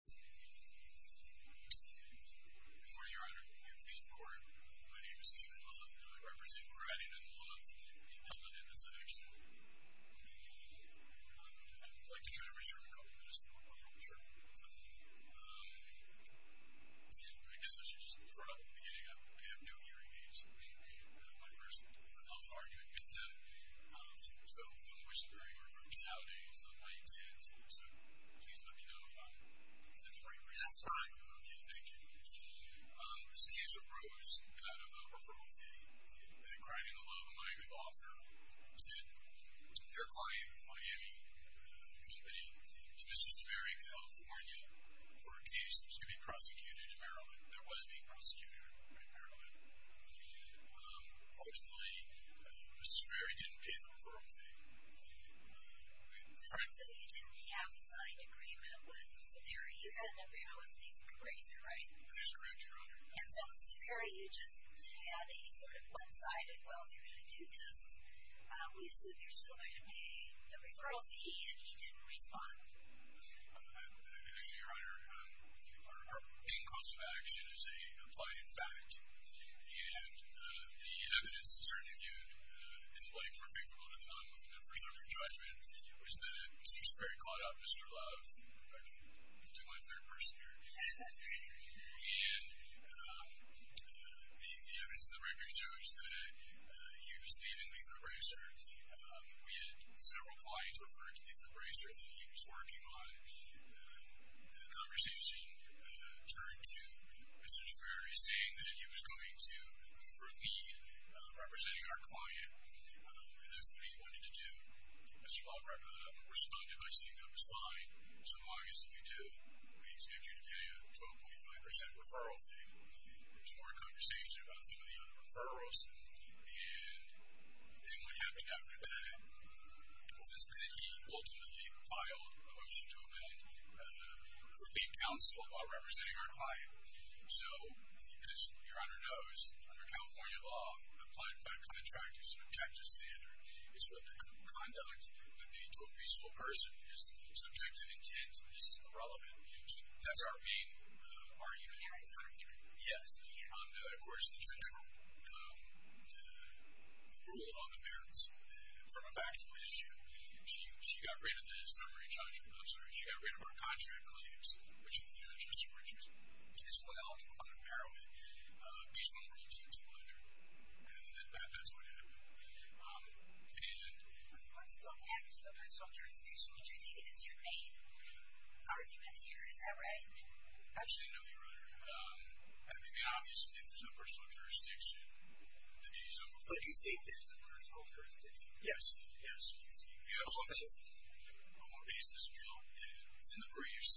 Good morning, Your Honor. Please record. My name is Kevin Lund, and I represent Criden and Lund. We have not had this incident. I would like to try to return a couple minutes, but I'm not sure I will be able to do that. Again, I guess this is just the probable beginning. I have no hearing aids. My first oral argument is that some of the whistle-blowing were from Saudis on 9-10. So, please let me know if that's right. That's fine. Okay, thank you. This case arose out of a referral fee that Criden and Lund might have offered to their client, Miami Company, to Mr. Saveri, California, for a case that was going to be prosecuted in Maryland. It was being prosecuted in Maryland. Unfortunately, Saveri didn't pay the referral fee. So, you didn't have a signed agreement with Saveri. You had an agreement with Nathan Grazer, right? That is correct, Your Honor. And so, with Saveri, you just had a sort of one-sided, well, you're going to do this. We assume you're still going to pay the referral fee, and he didn't respond. Actually, Your Honor, our main cause of action is a plied-in fact, and the evidence to certainly do it into, like, perfectable, if not a perfect judgment, was that Mr. Saveri called out Mr. Love. In fact, he was my third person here. And the evidence in the record shows that he was dating Nathan Grazer, and several clients referred to Nathan Grazer that he was working on. The conversation turned to Mr. Saveri saying that he was going to go for a feed, representing our client, and that's what he wanted to do. Mr. Love responded by saying that it was fine. So, August, if you do, we expect you to pay a 12.5% referral fee. There was more conversation about some of the other referrals, and then what happened after that was that he ultimately filed a motion to amend the Grouping Council while representing our client. So, as Your Honor knows, under California law, a plied-in fact contract is an objective standard. It's what the conduct would be to a peaceful person. It's subjective intent. It's irrelevant. That's our main argument here. Yes. And, of course, the general rule on the merits from a factual issue, she got rid of the summary charge from the officer, and she got rid of our contract claims, which included a trustee warrant, which was as well unparalleled, based on Rule 2200. And that's what happened. Let's go back to the personal jurisdiction, which I take it is your main argument here. Is that right? Actually, no, Your Honor. I mean, obviously, if there's no personal jurisdiction, the deed is over. But you think there's no personal jurisdiction? Yes. Yes. On what basis? On what basis? Well, it's in the briefs.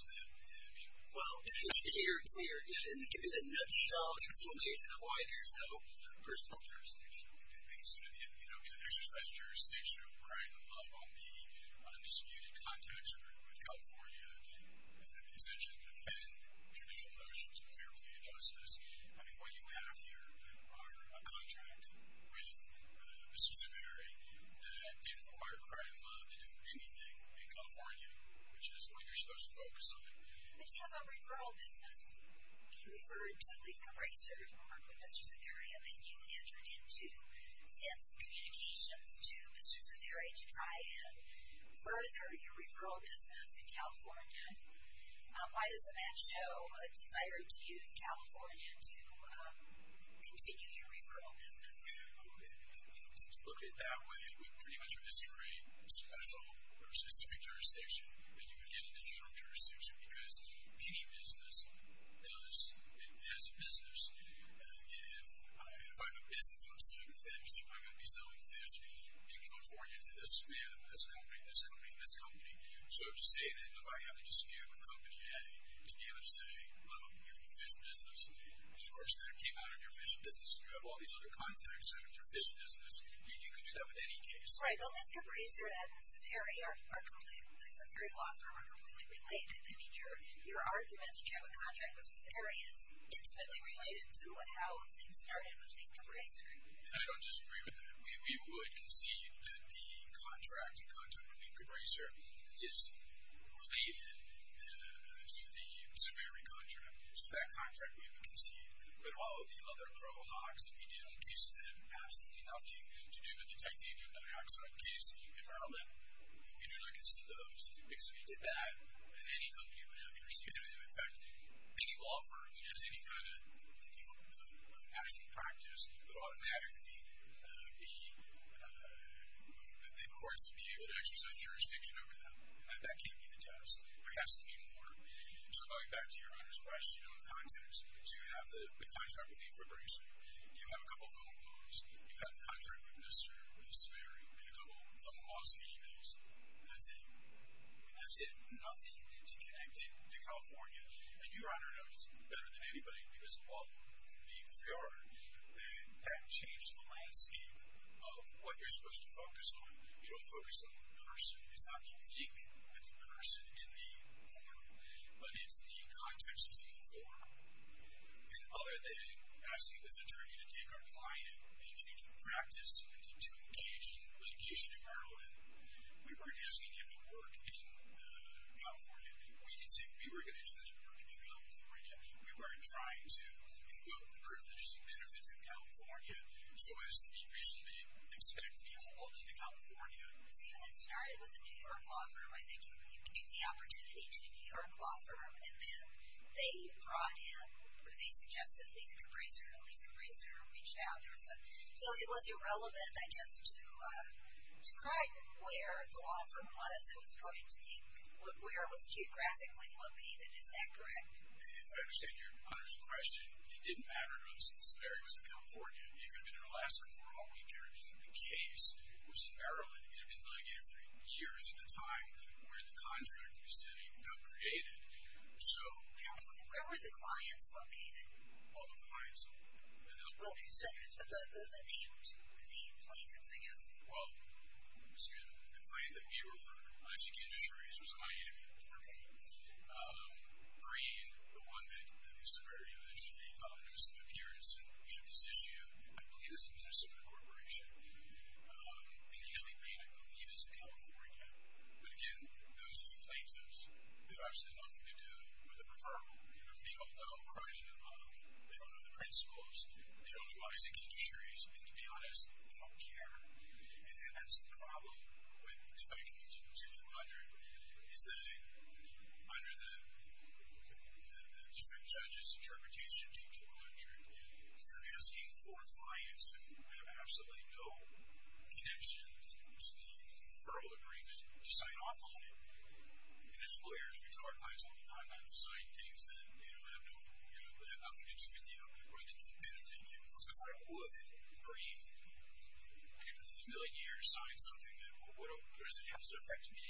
Well, in a nutshell. Give me the nutshell explanation of why there's no personal jurisdiction. Basically, you know, to exercise jurisdiction, I mean, what you have here are a contract with Mr. Severi that didn't require crime law to do anything in California, which is what you're supposed to focus on. But you have a referral business. You referred to the eraser report with Mr. Severi, and then you entered into sense of communications to Mr. Severi to try and further your referral business in California. Why does a man show a desire to use California to continue your referral business? Well, to look at it that way, we pretty much are misusing personal or specific jurisdiction. And you would get into general jurisdiction because any business does as a business. If I'm a business and I'm selling fish, am I going to be selling fish and referring it to this man, this company, this company, this company? So to say that if I have a disagreement with a company, you have to be able to say, well, you're in the fish business. And of course, if you came out of your fish business and you have all these other contacts out of your fish business, you can do that with any case. Right. Well, Mr. Braser and Mr. Severi are completely, Mr. Severi and Lothro are completely related. I mean, your argument that you have a contract with Mr. Severi is intimately related to how things started with Mr. Braser. I don't disagree with that. We would concede that the contract, the contract with Mr. Braser is related to the Severi contract. So that contract we would concede. But all of the other pro hocs and medial cases have absolutely nothing to do with detecting a dioxide case. You can rattle that. You do not concede those. Because if you did that, then any company would have jurisdiction. And, in effect, being a law firm, just any kind of action practice, you would automatically be, of course, would be able to exercise jurisdiction over that. And that can't be the case. There has to be more. So going back to your earlier question on contacts, you have the contract with Mr. Braser. You have a couple of phone calls. You have the contract with Mr. Severi. You have a couple of phone calls and e-mails. And that's it. That's it. Nothing to connect it to California. And your Honor knows better than anybody, because of all the competence we are, that that changes the landscape of what you're supposed to focus on. You don't focus on the person. It's not complete with the person in the form. But it's the context between the form. The other day, asking this attorney to take our client into practice, to engage in litigation in Maryland, we were asking him to work in California. We did say we were going to do that work in California. We were trying to invoke the privileges and benefits of California so as to the reason they expect to be hauled into California. So you had started with a New York law firm. I think you gave the opportunity to a New York law firm. And then they brought in, or they suggested Lisa Caprisa, and Lisa Caprisa reached out. So it was irrelevant, I guess, to try where the law firm was that was going to take, where it was geographically located. Is that correct? I understand your Honor's question. It didn't matter to us. It's very much in California. We've been in Alaska for all week here. The case was in Maryland. We had been in litigation for years at the time where the contract we're setting got created. Where were the clients located? All of the clients. Okay, so that means the plaintiffs, I guess. Well, to the point that we were for logic industries was Miami. Okay. Green, the one that was very much a focus of appearance in this issue, I believe it was a Minnesota corporation. And then we made a move, either to California. But, again, those two plaintiffs, they have absolutely nothing to do with the referral. They don't know Cronin and Love. They don't know the principles. They don't do logic industries. And, to be honest, they don't care. And that's the problem. If I can get you to 2400, is that under the district judge's interpretation, 2400, you're asking for clients who have absolutely no connection to the referral agreement to sign off on it. And as lawyers, we tell our clients all the time not to sign things that have nothing to do with you or that don't benefit you. Because if I would, Green, after 30 million years, sign something, what does it have to affect me?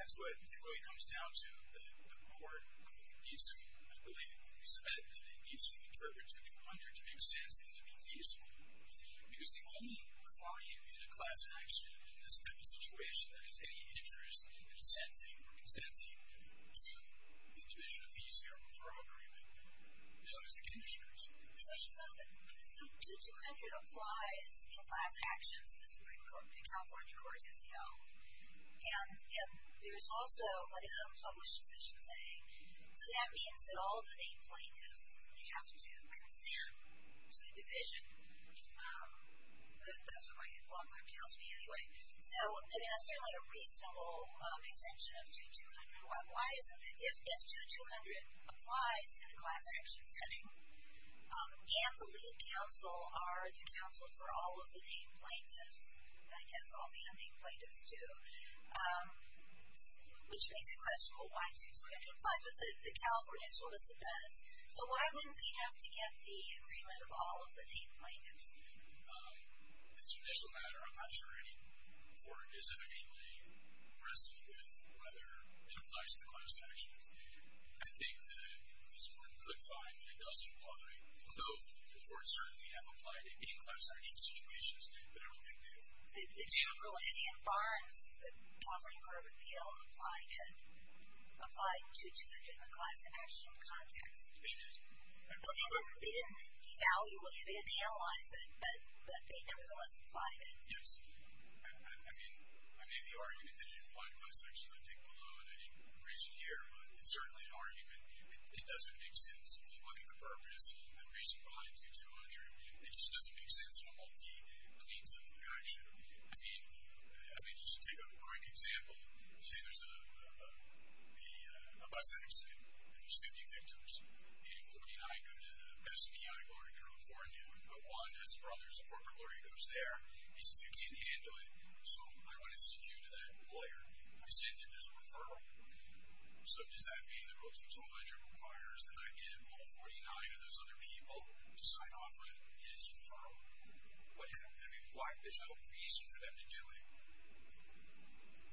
That's what it really comes down to, that the court needs to, I believe, respect that it needs to interpret 2,200 to make sense and to be feasible. Because the only client in a class action in this type of situation that has any interest in consenting to the division of fees or referral agreement is logic industries. So I just thought that 2,200 applies in class actions to the California court as you know. And there's also a published decision saying, so that means that all of the eight plaintiffs, they have to consent to the division. That's what my law firm tells me anyway. So it has certainly a reasonable extension of 2,200. Why isn't it? If 2,200 applies in a class action setting, and the lead counsel are the counsel for all of the eight plaintiffs, I guess all the unnamed plaintiffs too, which makes it questionable why 2,200 applies, but the California solicitor does. So why wouldn't he have to get the agreement of all of the eight plaintiffs? As a judicial matter, I'm not sure any court is at any way at risk with whether it applies to class actions. I think that, as one could find, it doesn't apply, although the courts certainly have applied it in class action situations and they've been able to do that. The general Indian Barnes, the California court would be able to apply it in a class action context. They did. Well, they didn't evaluate it, they didn't analyze it, but they nevertheless applied it. Yes. I mean, the argument that it applied in class action is, I think, below any reason here, but it's certainly an argument. It doesn't make sense. If you look at the purpose and reason behind 2,200, it just doesn't make sense for multi-plaintiff action. I mean, just to take a quick example, let's say there's a bus accident and there's 50 victims, and 49 go to the recipient, a lawyer in California, but one has a brother who's a corporate lawyer who goes there. He says, you can't handle it, so I want to send you to that lawyer. You send him, there's a referral. So does that mean the Rotototal Ledger requires that I get all 49 of those other people to sign off on his referral? I mean, why? There's no reason for them to do it.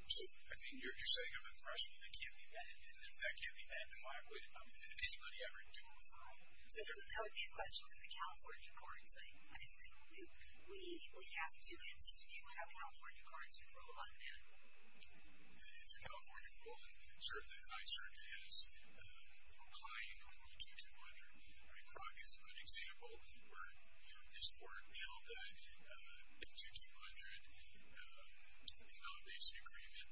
So, I mean, you're setting up a threshold that can't be met, and if that can't be met, then why would anybody ever do a referral? So that would be a question for the California courts, I assume. We have to anticipate what our California courts would rule on that. It's a California rule, and certainly the High Circuit has reclined on 2,200. I mean, Crockett's a good example where, you know, the Supreme Court held that if 2,200 invalidates the agreement,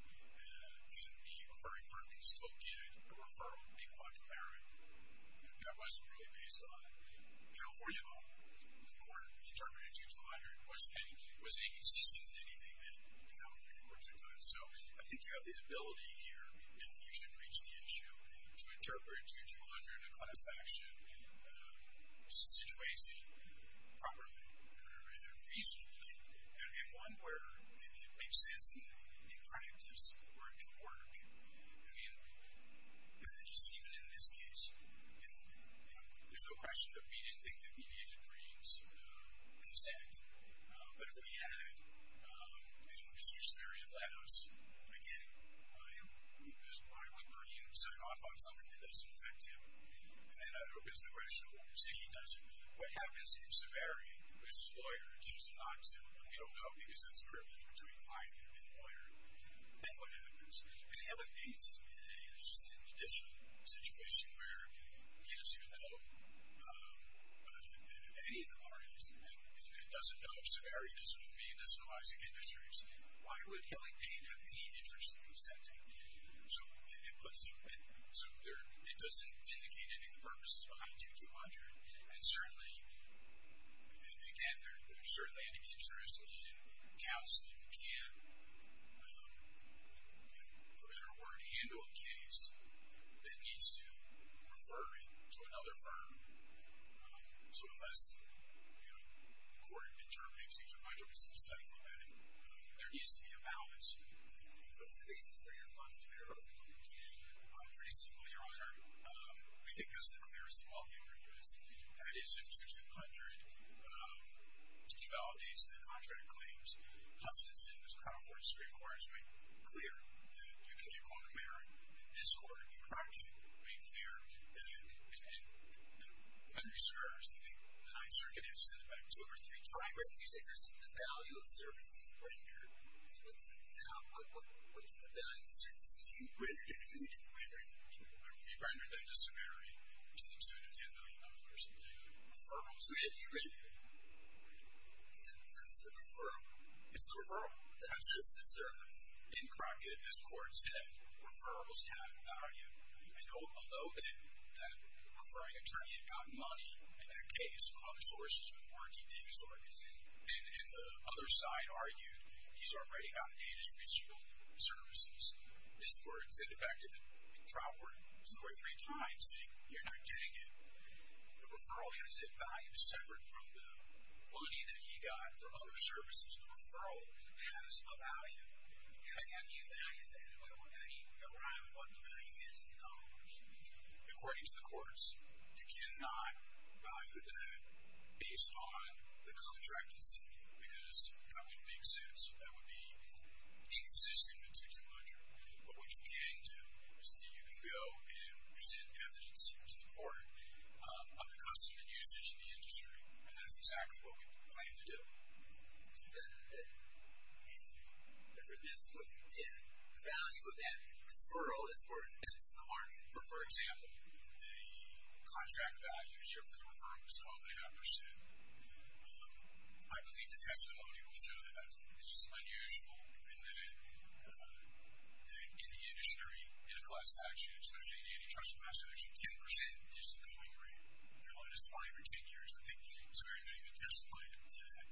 then the referring firm can still get a referral, make a law to bear it. That wasn't really based on it. California law, when the court interpreted 2,200, wasn't inconsistent with anything that the California courts had done. So I think you have the ability here, if you should reach the issue, to interpret 2,200 in a class action situation properly. I mean, one where it makes sense in practice where it can work. I mean, even in this case, you know, there's no question that we didn't think that we needed to create some consent, but if we had, you know, a decisionary allowance, again, why would Purdue sign off on something that doesn't affect him? And I hope that's a great issue. See, he doesn't. What happens if Saveri, who is his lawyer, teases him not to? We don't know, because that's a rift between client and lawyer. Then what happens? If Hillary Clinton is in a judicial situation where he doesn't even know any of the parties and doesn't know if Saveri is going to be in disciplining industries, why would Hillary Clinton have any interest in consenting? So it doesn't indicate any of the purposes behind 2,200. And certainly, again, there's certainly an interest in counsel who can't, for better or worse, handle a case that needs to refer it to another firm. So unless, you know, the court interprets each of my jokes in a certain way, there needs to be a balance. What's the basis for your budgetary review? Pretty simple, Your Honor. We think this is the clearest of all the interviews. That is, if 2,200 invalidates the contract claims, Huston's and the California Supreme Court has made it clear that you can't call the mayor in this court. Crockett made it clear and underscores that the High Circuit had sent it back two or three times. You say this is the value of the services rendered. So what's the value of the services you rendered? And who did you render them to? We rendered them to Saveri, to the $2-10 million person. So we have you right here. So this is the referral? It's the referral. That's just the service. In Crockett, as the court said, referrals have value. And although then that referring attorney had gotten money in that case from other sources for the warranty things, and the other side argued he's already gotten data from each of the services, this court sent it back to the trial court two or three times saying you're not getting it. The referral has a value separate from the money that he got from other services. The referral has a value. How do you value that? Does it rhyme with what the value is in dollars? According to the courts, you cannot value that based on the contract itself, because that wouldn't make sense. That would be inconsistent with 2200. But what you can do is that you can go and present evidence to the court of the customer usage in the industry, and that's exactly what we plan to do. The difference with the value of that referral is where it's in the market. For example, the contract value here for the referral is 12.8%. I believe the testimony will show that that's just unusual in the industry, in a class statute, especially in antitrust and mass eviction. Ten percent is the going rate. For the latest five or ten years, I think it's very good you can testify to that.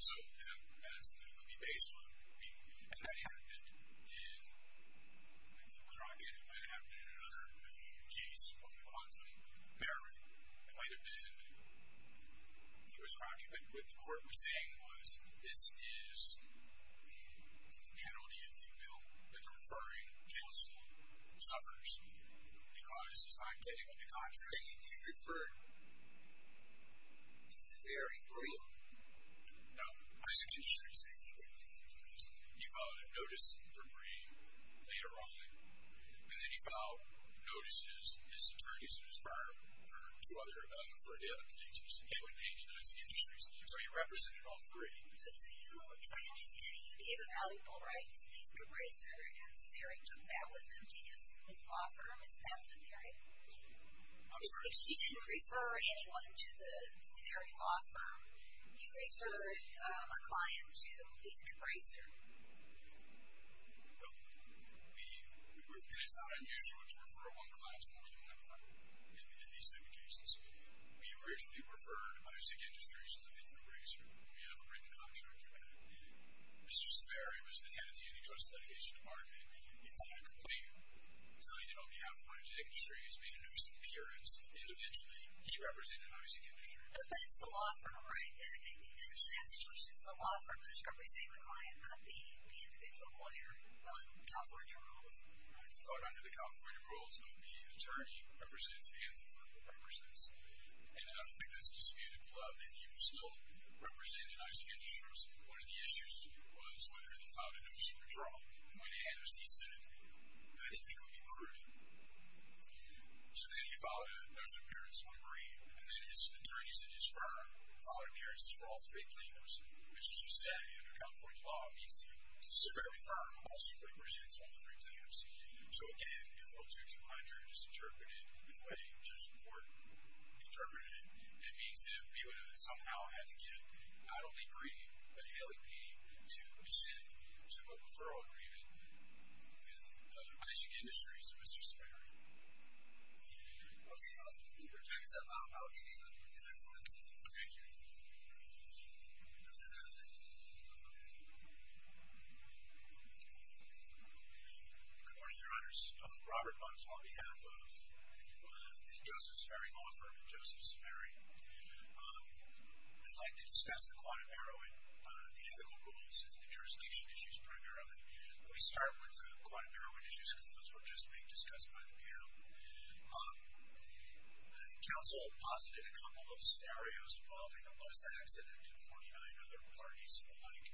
So that is the base one. If that happened in Crockett, it might have happened in another case, what we call on something like Barron, it might have been in Lewis Crockett. But what the court was saying was, this is the penalty, if you will, that the referring counsel suffers because he's not getting the contract. And he referred... He's very brutal. No, I said industries. He filed a notice for Bray later on, and then he filed notices, his attorneys and his firm, for two other... for the other cases, and then he denies the industries. So he represented all three. So you, if I understand it, you gave a valuable right to the Bray Center, and so there it took that with emptying his law firm, is that what you're saying? I'm sorry? If he didn't refer anyone to the Savary Law Firm, you referred a client to Ethan Bray's firm. Well, we... It's not unusual to refer one client to another client in these type of cases. We originally referred the music industry to Ethan Bray's firm. We have a written contract with it. Mr. Savary was the head of the Unijoyce Dedication Department. He filed a complaint, saying that on behalf of Unijoyce Dedication, he's made a notice of appearance, and eventually he represented Isaac Industries. But that's the law firm, right? And it's actually just the law firm that's representing the client, not the individual lawyer, not California rules. It's not under the California rules, not the attorney represents and the firm represents. And I think that's disputed. Well, I think he still represented Isaac Industries. One of the issues was whether they filed a notice for withdrawal. When the amnesty said, I didn't think it would be prudent. So then he filed a notice of appearance on Bray, and then his attorney said his firm filed appearances for all three claims, which, as you say, under California law, means the Savary firm also represents all three claims. So, again, referral 2200 is interpreted in a way just more interpreted. It means that we would have somehow had to get not only Bray, but LEP, to rescind to a referral agreement with Isaac Industries and Mr. Savary. Okay, I'll leave your check. Is that allowed? Okay, good. Okay, thank you. Good morning, Your Honors. Robert Bunch on behalf of the Joseph Savary law firm, Joseph Savary. I'd like to discuss the quantum heroin. The ethical rules and the jurisdiction issues primarily. We start with the quantum heroin issue, since those were just being discussed by the panel. The council posited a couple of scenarios involving a bus accident and 49 other parties alike.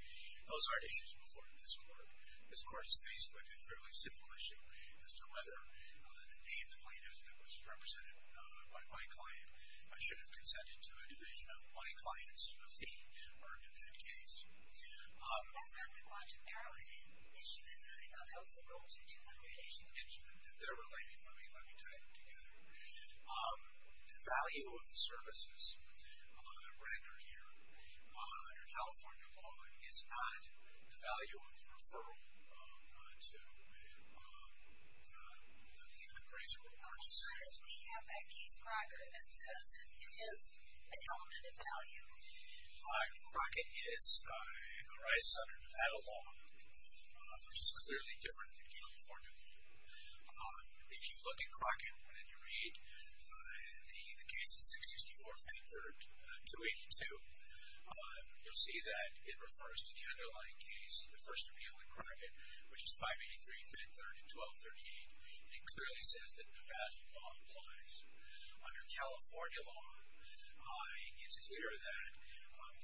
Those aren't issues before this court. This court is faced with a fairly simple issue as to whether the plaintiff that was represented by my client should have consented to a division of my client's fee earned in that case. That's not the quantum heroin issue, is it? No, that was the role of the two other cases. They're related. Let me tie them together. The value of the services rendered here under California law is not the value of the referral to the payment procedure. As soon as we have that case record that says it is a element of value, Crockett arises under Nevada law, which is clearly different than California law. If you look at Crockett, and you read the case of 664 Fentherd 282, you'll see that it refers to the underlying case, the First Amendment Crockett, which is 583 Fentherd 1238. It clearly says that the value law applies. Under California law, it's clear that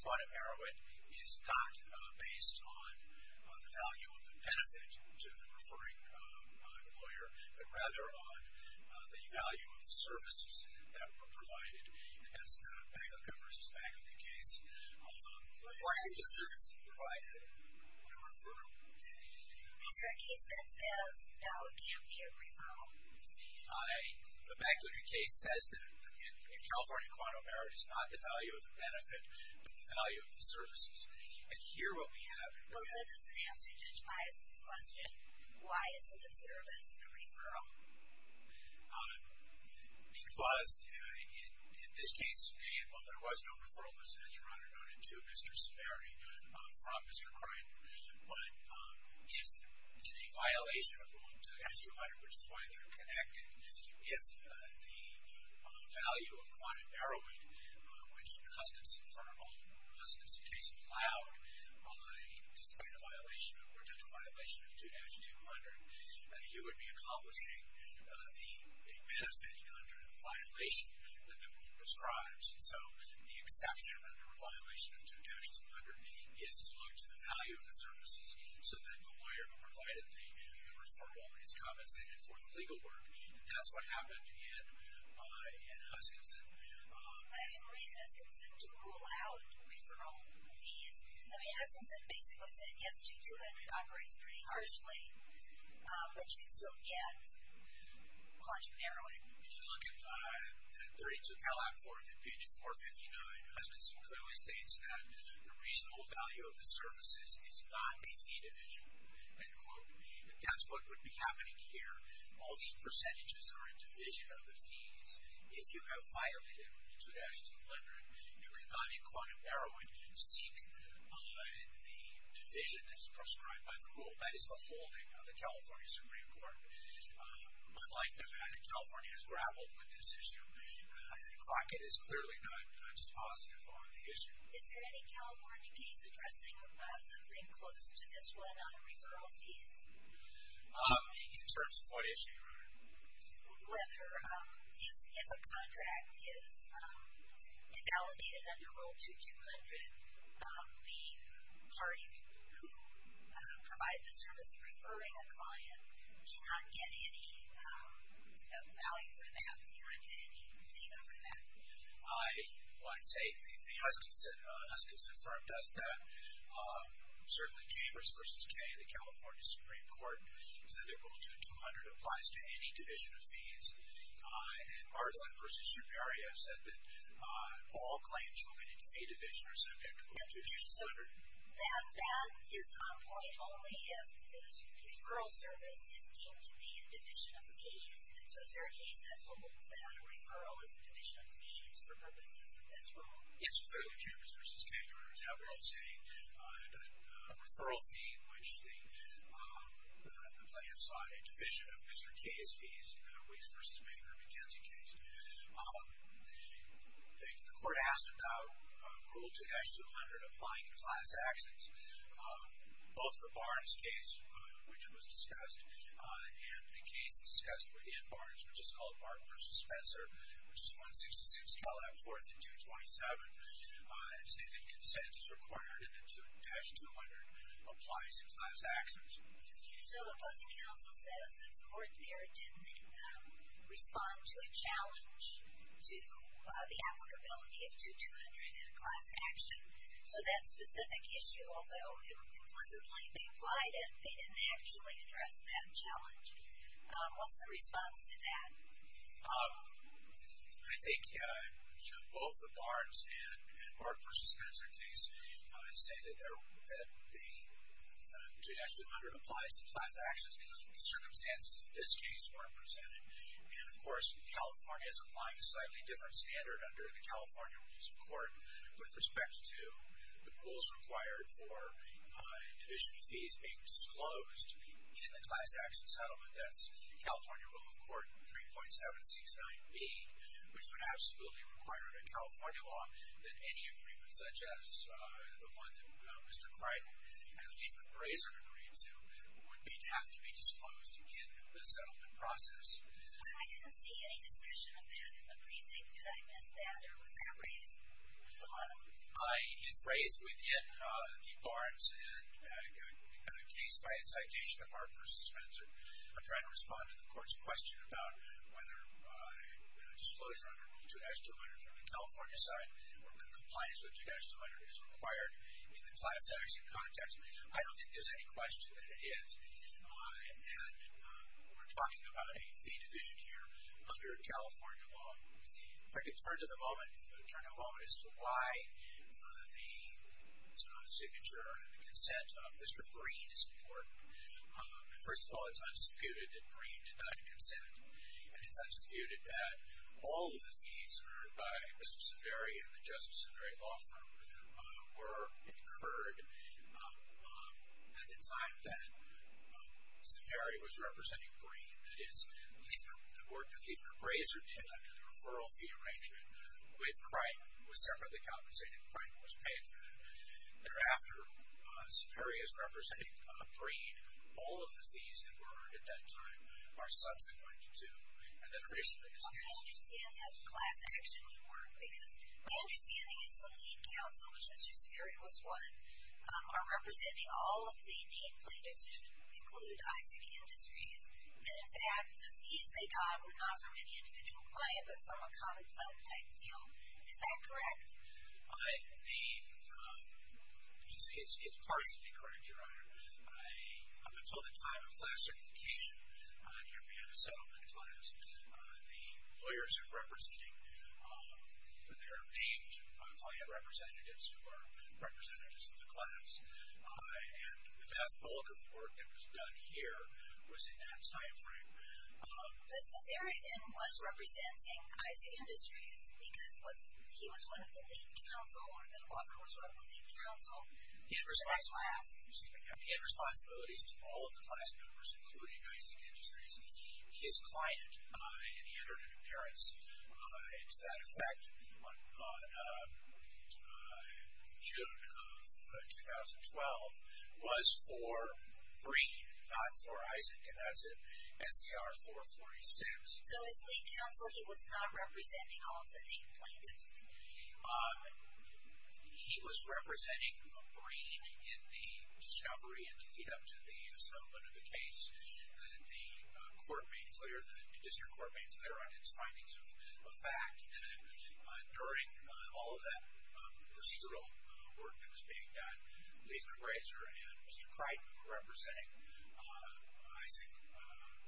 quantum heroin is not based on the value of the benefit to the preferring lawyer, but rather on the value of the services that were provided. That's the Magluca v. Magluca case. Referring to services provided to a firm. If that case then says, The Magluca case says that, in California quantum heroin, it's not the value of the benefit, but the value of the services. And here what we have... Because in this case, while there was no referral, as you run it on into Mr. Sperry from Mr. Krein, but if in a violation of 2-200, which is why they're connected, if the value of quantum heroin, which the husband's firm, or the husband's case, allowed by display of violation, or potential violation of 2-200, you would be accomplishing the benefit under the violation that the rule prescribes. And so the exception under a violation of 2-200 is to look to the value of the services, so that the lawyer provided the referral, his compensation for the legal work. That's what happened in Huskinson. I didn't read Huskinson to rule out referral fees. I mean, Huskinson basically said, Yes, 2-200 operates pretty harshly, but you can still get quantum heroin. If you look at 32 Calac 4, page 459, Huskinson clearly states that the reasonable value of the services is not a fee division, end quote. That's what would be happening here. All these percentages are in division of the fees. If you have violated 2-200, you would not, in quantum heroin, seek the division that is prescribed by the rule. That is a holding of the California Supreme Court. Unlike Nevada, California has grappled with this issue. Crockett is clearly not just positive on the issue. Is there any California case addressing something close to this one on referral fees? In terms of what issue? If a contract is invalidated under Rule 2-200, the party who provided the service of referring a client cannot get any value for that, cannot get any data for that. Well, I'd say the Huskinson firm does that. Certainly, Chambers v. Kaye, the California Supreme Court, said that Rule 2-200 applies to any division of fees. And Mardlin v. Shuperia said that that is on point only if the referral service is deemed to be a division of fees. And so is there a case that holds that a referral is a division of fees for purposes of this rule? Yes, clearly, Chambers v. Kaye. Remember, it's how we're all saying that a referral fee, which the complainant signed a division of Mr. Kaye's fees, Weeks v. Macon v. McKenzie, The court asked about Rule 2-200 applying to class actions. Both for Barnes' case, which was discussed, and the case discussed within Barnes, which is called Barnes v. Spencer, which is 166 Calab 4th and 227, I'd say that consent is required in Rule 2-200 applying to class actions. So the busing council says that the court there didn't respond to a challenge to the applicability of 2-200 in a class action, so that specific issue, although it would implicitly be implied if they didn't actually address that challenge. What's the response to that? I think both the Barnes and Barnes v. Spencer case say that the 2-200 applies to class actions, but the circumstances in this case weren't presented. And, of course, California is applying a slightly different standard under the California Rules of Court with respect to the rules required for division of fees being disclosed in the class action settlement. That's the California Rule of Court 3.7698, which would absolutely require a California law that any agreement, such as the one that Mr. Kreidel and the Chief Appraiser agreed to, would have to be disclosed in the settlement process. I didn't see any discussion of that in the briefing. Did I miss that, or was that raised? It's raised within the Barnes case by a citation of Barnes v. Spencer. I'm trying to respond to the court's question about whether disclosure under 2-200 from the California side or compliance with 2-200 is required in the class action context. I don't think there's any question that it is. And we're talking about a fee division here under California law. If I could turn a moment as to why the signature and the consent of Mr. Green is important. First of all, it's undisputed that Green did not consent. And it's undisputed that all of the fees by Mr. Saveri and the Justice Saveri law firm were incurred at the time that Saveri was representing Green. That is, the work that the appraiser did after the referral fee arrangement with Kreidel was separately compensated. Kreidel was paid for that. Thereafter, Saveri is representing Green. All of the fees that were earned at that time are subsequent to and that are issued in this case. I understand how the class action would work because my understanding is the lead counsel, which Mr. Saveri was one, are representing all of the need plaintiffs who include Isaac Industries. And in fact, the fees they got were not from any individual client, but from a common client type deal. Is that correct? The... You see, it's partially correct, Your Honor. Up until the time of class certification, here beyond the settlement class, the lawyers are representing their named client representatives who are representatives of the class. And the vast bulk of work that was done here was in that time frame. But Saveri, then, was representing Isaac Industries because he was one of the lead counsel, or the law firm was one of the lead counsel, for that class. He had responsibilities to all of the class members, including Isaac Industries. His client, and he heard it in appearance, to that effect, in June of 2012, was for Green, not for Isaac. And that's in SCR 446. So as lead counsel, he was not representing all of the need plaintiffs? He was representing Green in the discovery and lead-up to the settlement of the case. And the court made clear, the district court made clear on its findings of fact that during all of that procedural work that was being done, Lisa Grazer and Mr. Crichton were representing Isaac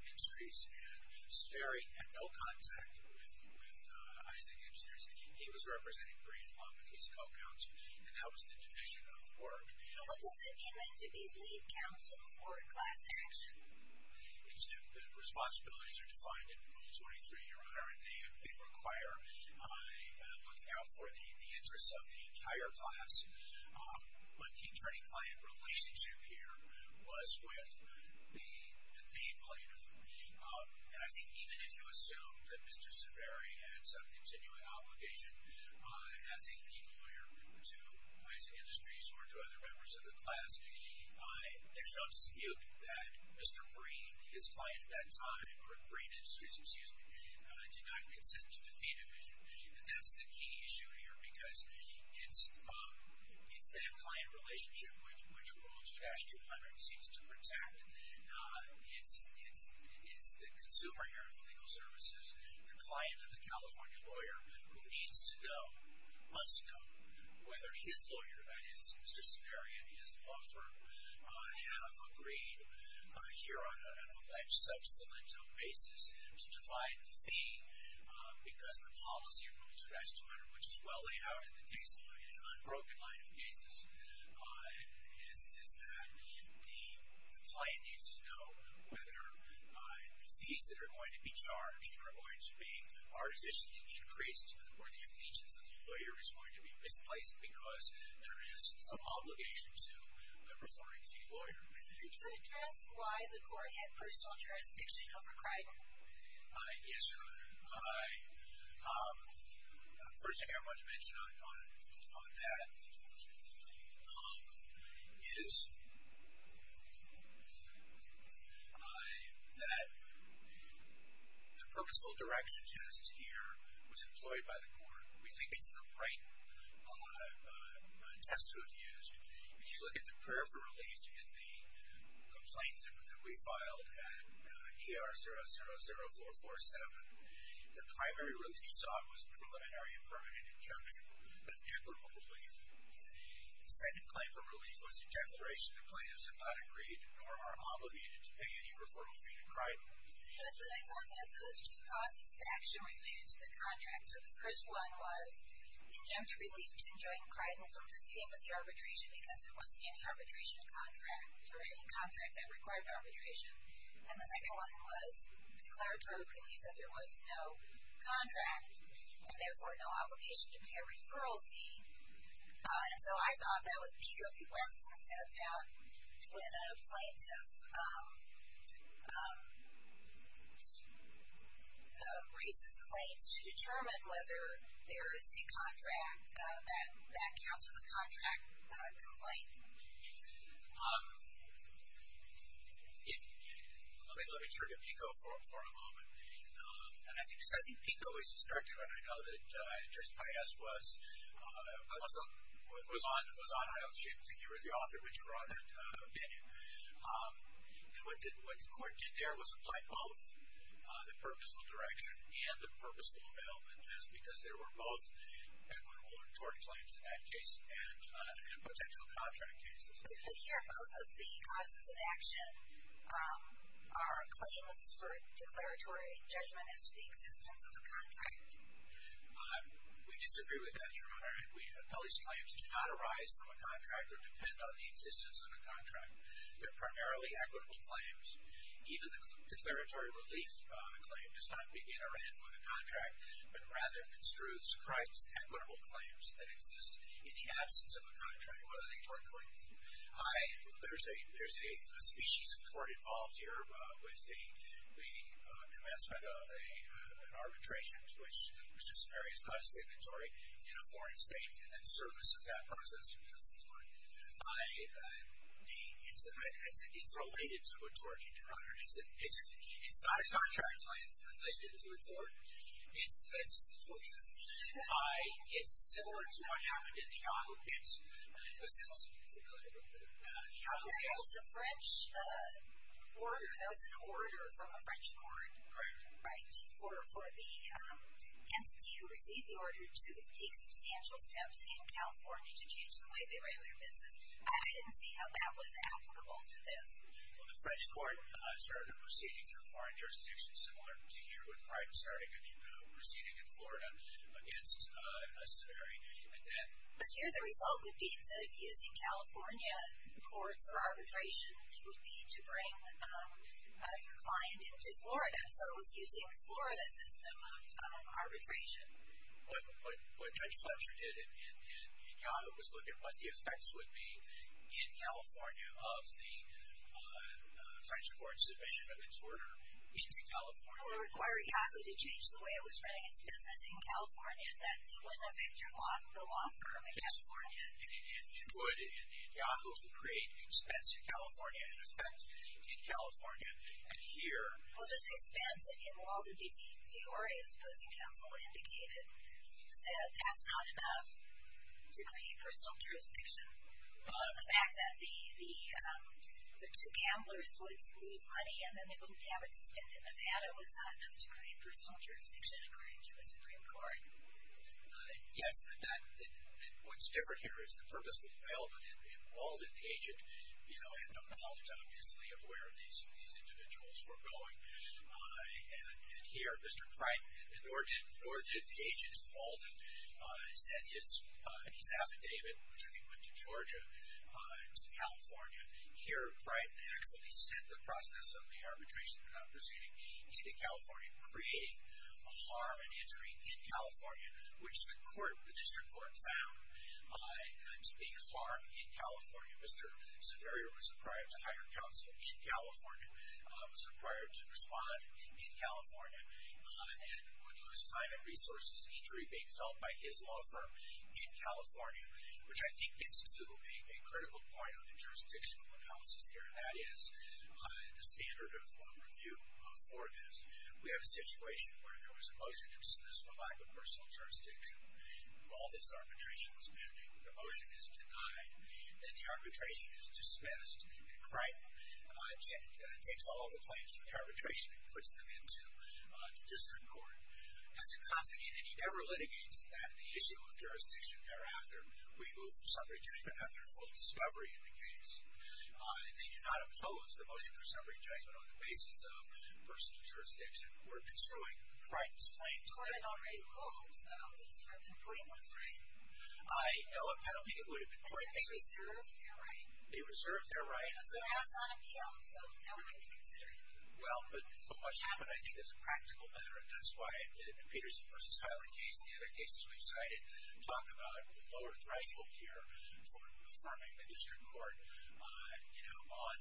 Industries and Saveri had no contact with Isaac Industries. He was representing Green among the case co-counsel and that was the division of work. And what does it mean to be lead counsel for a class action? The responsibilities are defined in Rule 23. They require looking out for the interests of the entire class. But the attorney-client relationship here was with the deed plaintiff. And I think even if you assume that Mr. Saveri had some continuing obligation as a lead lawyer to Isaac Industries or to other members of the class, there's no dispute that Mr. Green, his client at that time, or Green Industries, excuse me, did not consent to the deed of issue. And that's the key issue here because it's that client relationship which Rule 2-200 seems to protect. It's the consumer here of the legal services, the client of the California lawyer, who needs to know, must know, whether his lawyer, that is, Mr. Saveri and his law firm, have agreed here on a sub-cilindral basis to divide the deed because the policy of Rule 2-200, which is well laid out in the case law in an unbroken line of cases, is that the client needs to know whether the deeds that are going to be charged or the deeds that are going to be artificially increased or the allegiance of the lawyer is going to be misplaced because there is some obligation to referring to the lawyer. Could you address why the court had personal jurisdiction over crime? Yes, Your Honor. The first thing I wanted to mention on that is that the purposeful direction test here was employed by the court. We think it's the right test to have used. If you look at the peripheral relief in the complaint that we filed at ER 000447, the primary relief sought was a preliminary and permanent injunction. That's the equitable relief. The second claim for relief was a declaration the plaintiffs have not agreed nor are obligated to pay any reportable fee to Criden. But the court had those two causes that actually related to the contract. So the first one was injunctive relief to enjoin Criden from proceeding with the arbitration because there wasn't any arbitration contract or any contract that required arbitration. And the second one was declaratory relief that there was no contract and, therefore, no obligation to pay a referral fee. And so I thought that with Pico v. Weston set about when a plaintiff... ...raises claims to determine whether there is a contract that counts as a contract complaint. Let me turn to Pico for a moment. And I think Pico is instructive, and I know that Judge Paez was... ...was on a hiatus. You were the author, which brought that opinion. And what the court did there was apply both the purposeful direction and the purposeful availment test because there were both equitable and declaratory claims in that case and potential contract cases. But here, both of the causes of action are claims for declaratory judgment as to the existence of a contract. We disagree with that, Your Honor. Pelley's claims do not arise from a contract or depend on the existence of a contract. They're primarily equitable claims. Neither the declaratory relief claim does not begin or end with a contract but rather construes Criden's equitable claims that exist in the absence of a contract or a court claim. There's a species of tort involved here with the commencement of an arbitration which is not a signatory in a foreign state and the service of that process is not signatory. It's related to a tort, Your Honor. It's not a contract claim. It's related to a tort. It's similar to what happened in the Yahoo case. But since you're familiar with the Yahoo case... That was a French order. That was an order from a French court. Right. Right. For the entity who received the order to take substantial steps in California to change the way they regulate their business. I didn't see how that was applicable to this. Well, the French court started a proceeding through a foreign jurisdiction similar to here with Criden starting a proceeding in Florida against a severity. But here the result would be instead of using California courts or arbitration it would be to bring your client into Florida. So it was using the Florida system of arbitration. What Judge Fletcher did in Yahoo was look at what the effects would be in California of the French court's submission of its order into California. It would require Yahoo to change the way it was running its business in California that it wouldn't affect the law firm in California. It would. Yahoo would create an expense in California and affect in California. And here... Well, this expense, in Walter D. Deoria's opposing counsel, indicated that that's not enough to create personal jurisdiction. The fact that the two gamblers would lose money and then they wouldn't have it to spend in Nevada was not enough to create personal jurisdiction and create a Supreme Court. Yes, but what's different here is the purposeful development in Walden, the agent, had no doubt, obviously, of where these individuals were going. And here, Mr. Criden, nor did the agent in Walden send his affidavit, which I think went to Georgia, to California. Here, Criden actually sent the process of the arbitration and the proceeding into California and created a harm and injury in California, which the court, the district court, found to be harm in California. Mr. Severio was required to hire counsel in California, was required to respond in California, and would lose time and resources to injury being felt by his law firm in California, which I think gets to a critical point of the jurisdictional analysis here, and that is the standard of review for this. We have a situation where if there was a motion to dismiss for lack of personal jurisdiction, and all this arbitration was pending, the motion is denied, then the arbitration is dismissed, and Criden takes all of the claims from the arbitration and puts them into district court. As a consequence, he never litigates that the issue of jurisdiction thereafter will be moved for summary judgment after full discovery in the case. He did not impose the motion for summary judgment on the basis of personal jurisdiction. We're pursuing Criden's claim. Criden already rose, though. His second complaint was, right? I don't think it would have been Criden. They reserved their right. They reserved their right. And so now it's on appeal. So now we're going to consider it. Well, but what's happened, I think there's a practical measure, and that's why in the Peterson v. Highland case and the other cases we've cited talk about the lower threshold here for affirming the district court, you know, on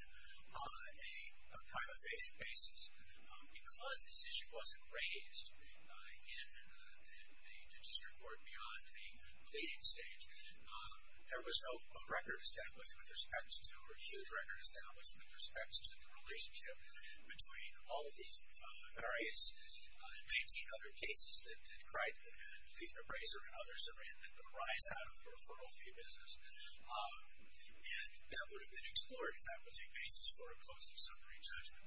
a time-efficient basis. Because this issue wasn't raised in the district court beyond the pleading stage, there was no record established with respect to, or a huge record established with respect to the relationship between all of these various 19 other cases that Criden and the appraiser and others have ran the rise out of the referral fee business. And that would have been explored if that was a basis for a close and summary judgment.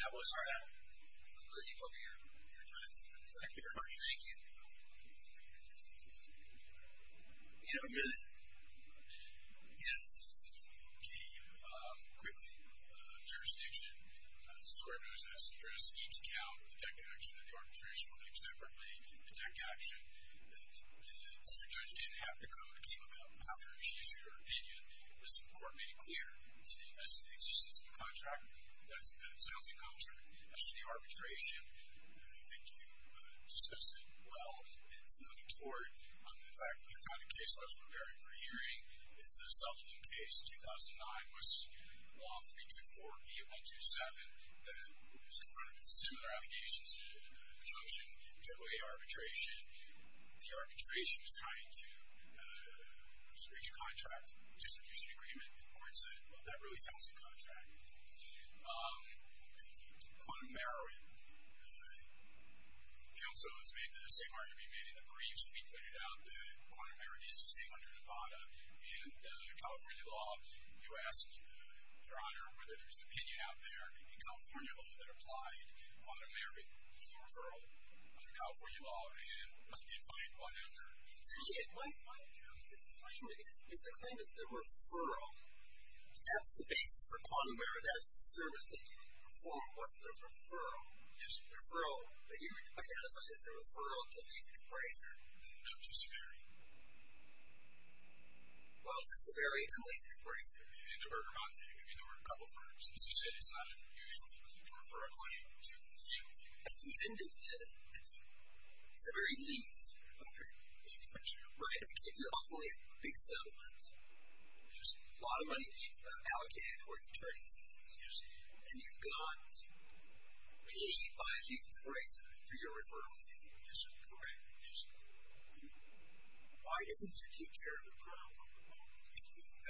That was that. All right. Thank you very much. Thank you. Do you have a minute? A minute? Yes. Okay. Quickly. Jurisdiction. Square Notice has addressed each account of the DEC action and the arbitration claim separately. The DEC action, the district judge didn't have the code, which came about after she issued her opinion. It was the court made it clear as to the existence of the contract, that it's a healthy contract. As to the arbitration, I don't think you discussed it well. It's not a tort. In fact, the kind of case I was preparing for hearing is the Sutherland case, 2009, was Law 324-8127. It was in front of similar allegations to Petrosian AAA arbitration. And the arbitration is trying to restrict your contract distribution agreement. The court said, well, that really sounds like a contract. Quantum narrowing. Counsel has made the same argument, maybe the briefs have been cleared out, that quantum narrowing is the same under Nevada. And California law, you asked, Your Honor, whether there's an opinion out there in California law that applied quantum narrowing as a referral to California law. And I did find one after. You did? It's a claim as the referral. That's the basis for quantum narrowing. That's the service that you would perform. What's the referral? The referral that you would identify as the referral to lethal compressor. No, to Severi. Well, to Severi and lethal compressor. And to Bergamonte. I mean, there were a couple firms. So she decided, usually, to refer a claim to you. At the end of the... Severi leaves. Right. It's an awfully big settlement. There's a lot of money allocated towards attorney fees. And you've got paid by a heathen's razor for your referral fee. Is that correct? Yes, Your Honor. Why doesn't he take care of the problem?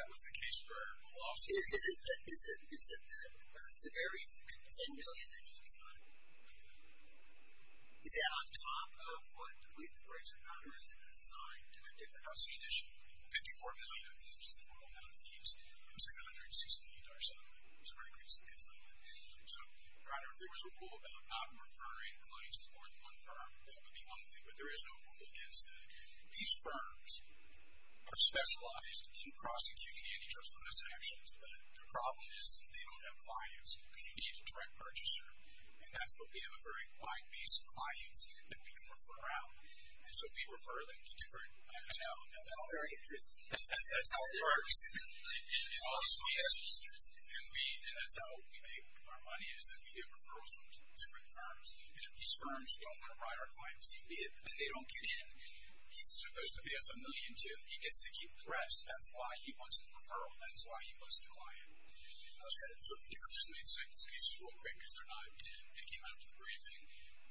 That was the case for the lawsuit. Is it that Severi spent $10 billion that he got is that on top of what lethal compressor is designed to do? $54 million of fees. That's the total amount of fees. It's like $168,000. It's a very good settlement. So I don't know if there was a rule about not referring claims to more than one firm. That would be one thing. But there is no rule against that. These firms are specialized in prosecuting antitrust lawsuits and actions. But the problem is, they don't have clients. Because you need a direct purchaser. And that's what we have, a very client-based clients that we can refer out. So we refer them to different... I know, I know. Very interesting. That's how it works. It's always interesting. And that's how we make our money is that we get referrals from different firms. And if these firms don't provide our clients, even if they don't get in, he still goes to pay us a million, too. He gets to keep the rest. That's why he wants the referral. That's why he goes to client. I was going to... So if you could just make sentences real quick because they're not in. It came out of the briefing.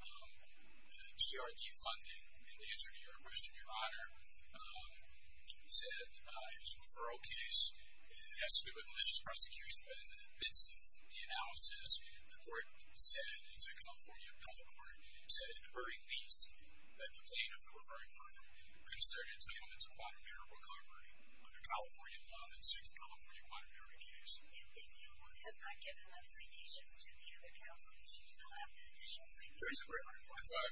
The GRD funding, in answer to your question, Your Honor, said it was a referral case. It has to do with malicious prosecution. But in the midst of the analysis, the court said, it's a California bill of court, said it's a verdict lease that the plaintiff, the referring firm, could assert entitlement to quantum error recovery under California law that suits the California quantum error case. If you had not given those signatures to the unit counsel, you should have been declared free. That's what I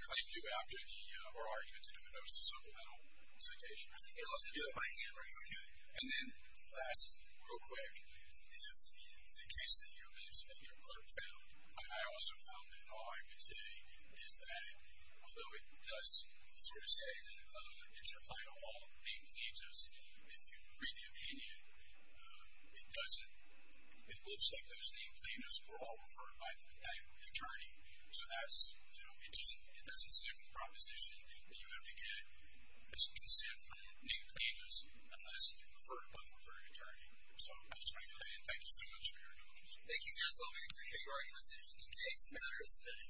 claimed to do after the... or argued to do it. It was a supplemental citation. I think you're allowed to do it by hand, right? Okay. And then, last, real quick, if the case that your clerk found, and I also found it in awe, I would say is that although it does sort of say that it should apply to all name claims, if you read the opinion, it doesn't... it looks like those name claims were all referred by that attorney. So that's, you know, it doesn't... there's a significant proposition that you have to get some consent from name claimants unless referred by the referring attorney. So, that's my opinion. Thank you so much for your attention. Thank you guys. I appreciate your arguments. It was an interesting case matter today.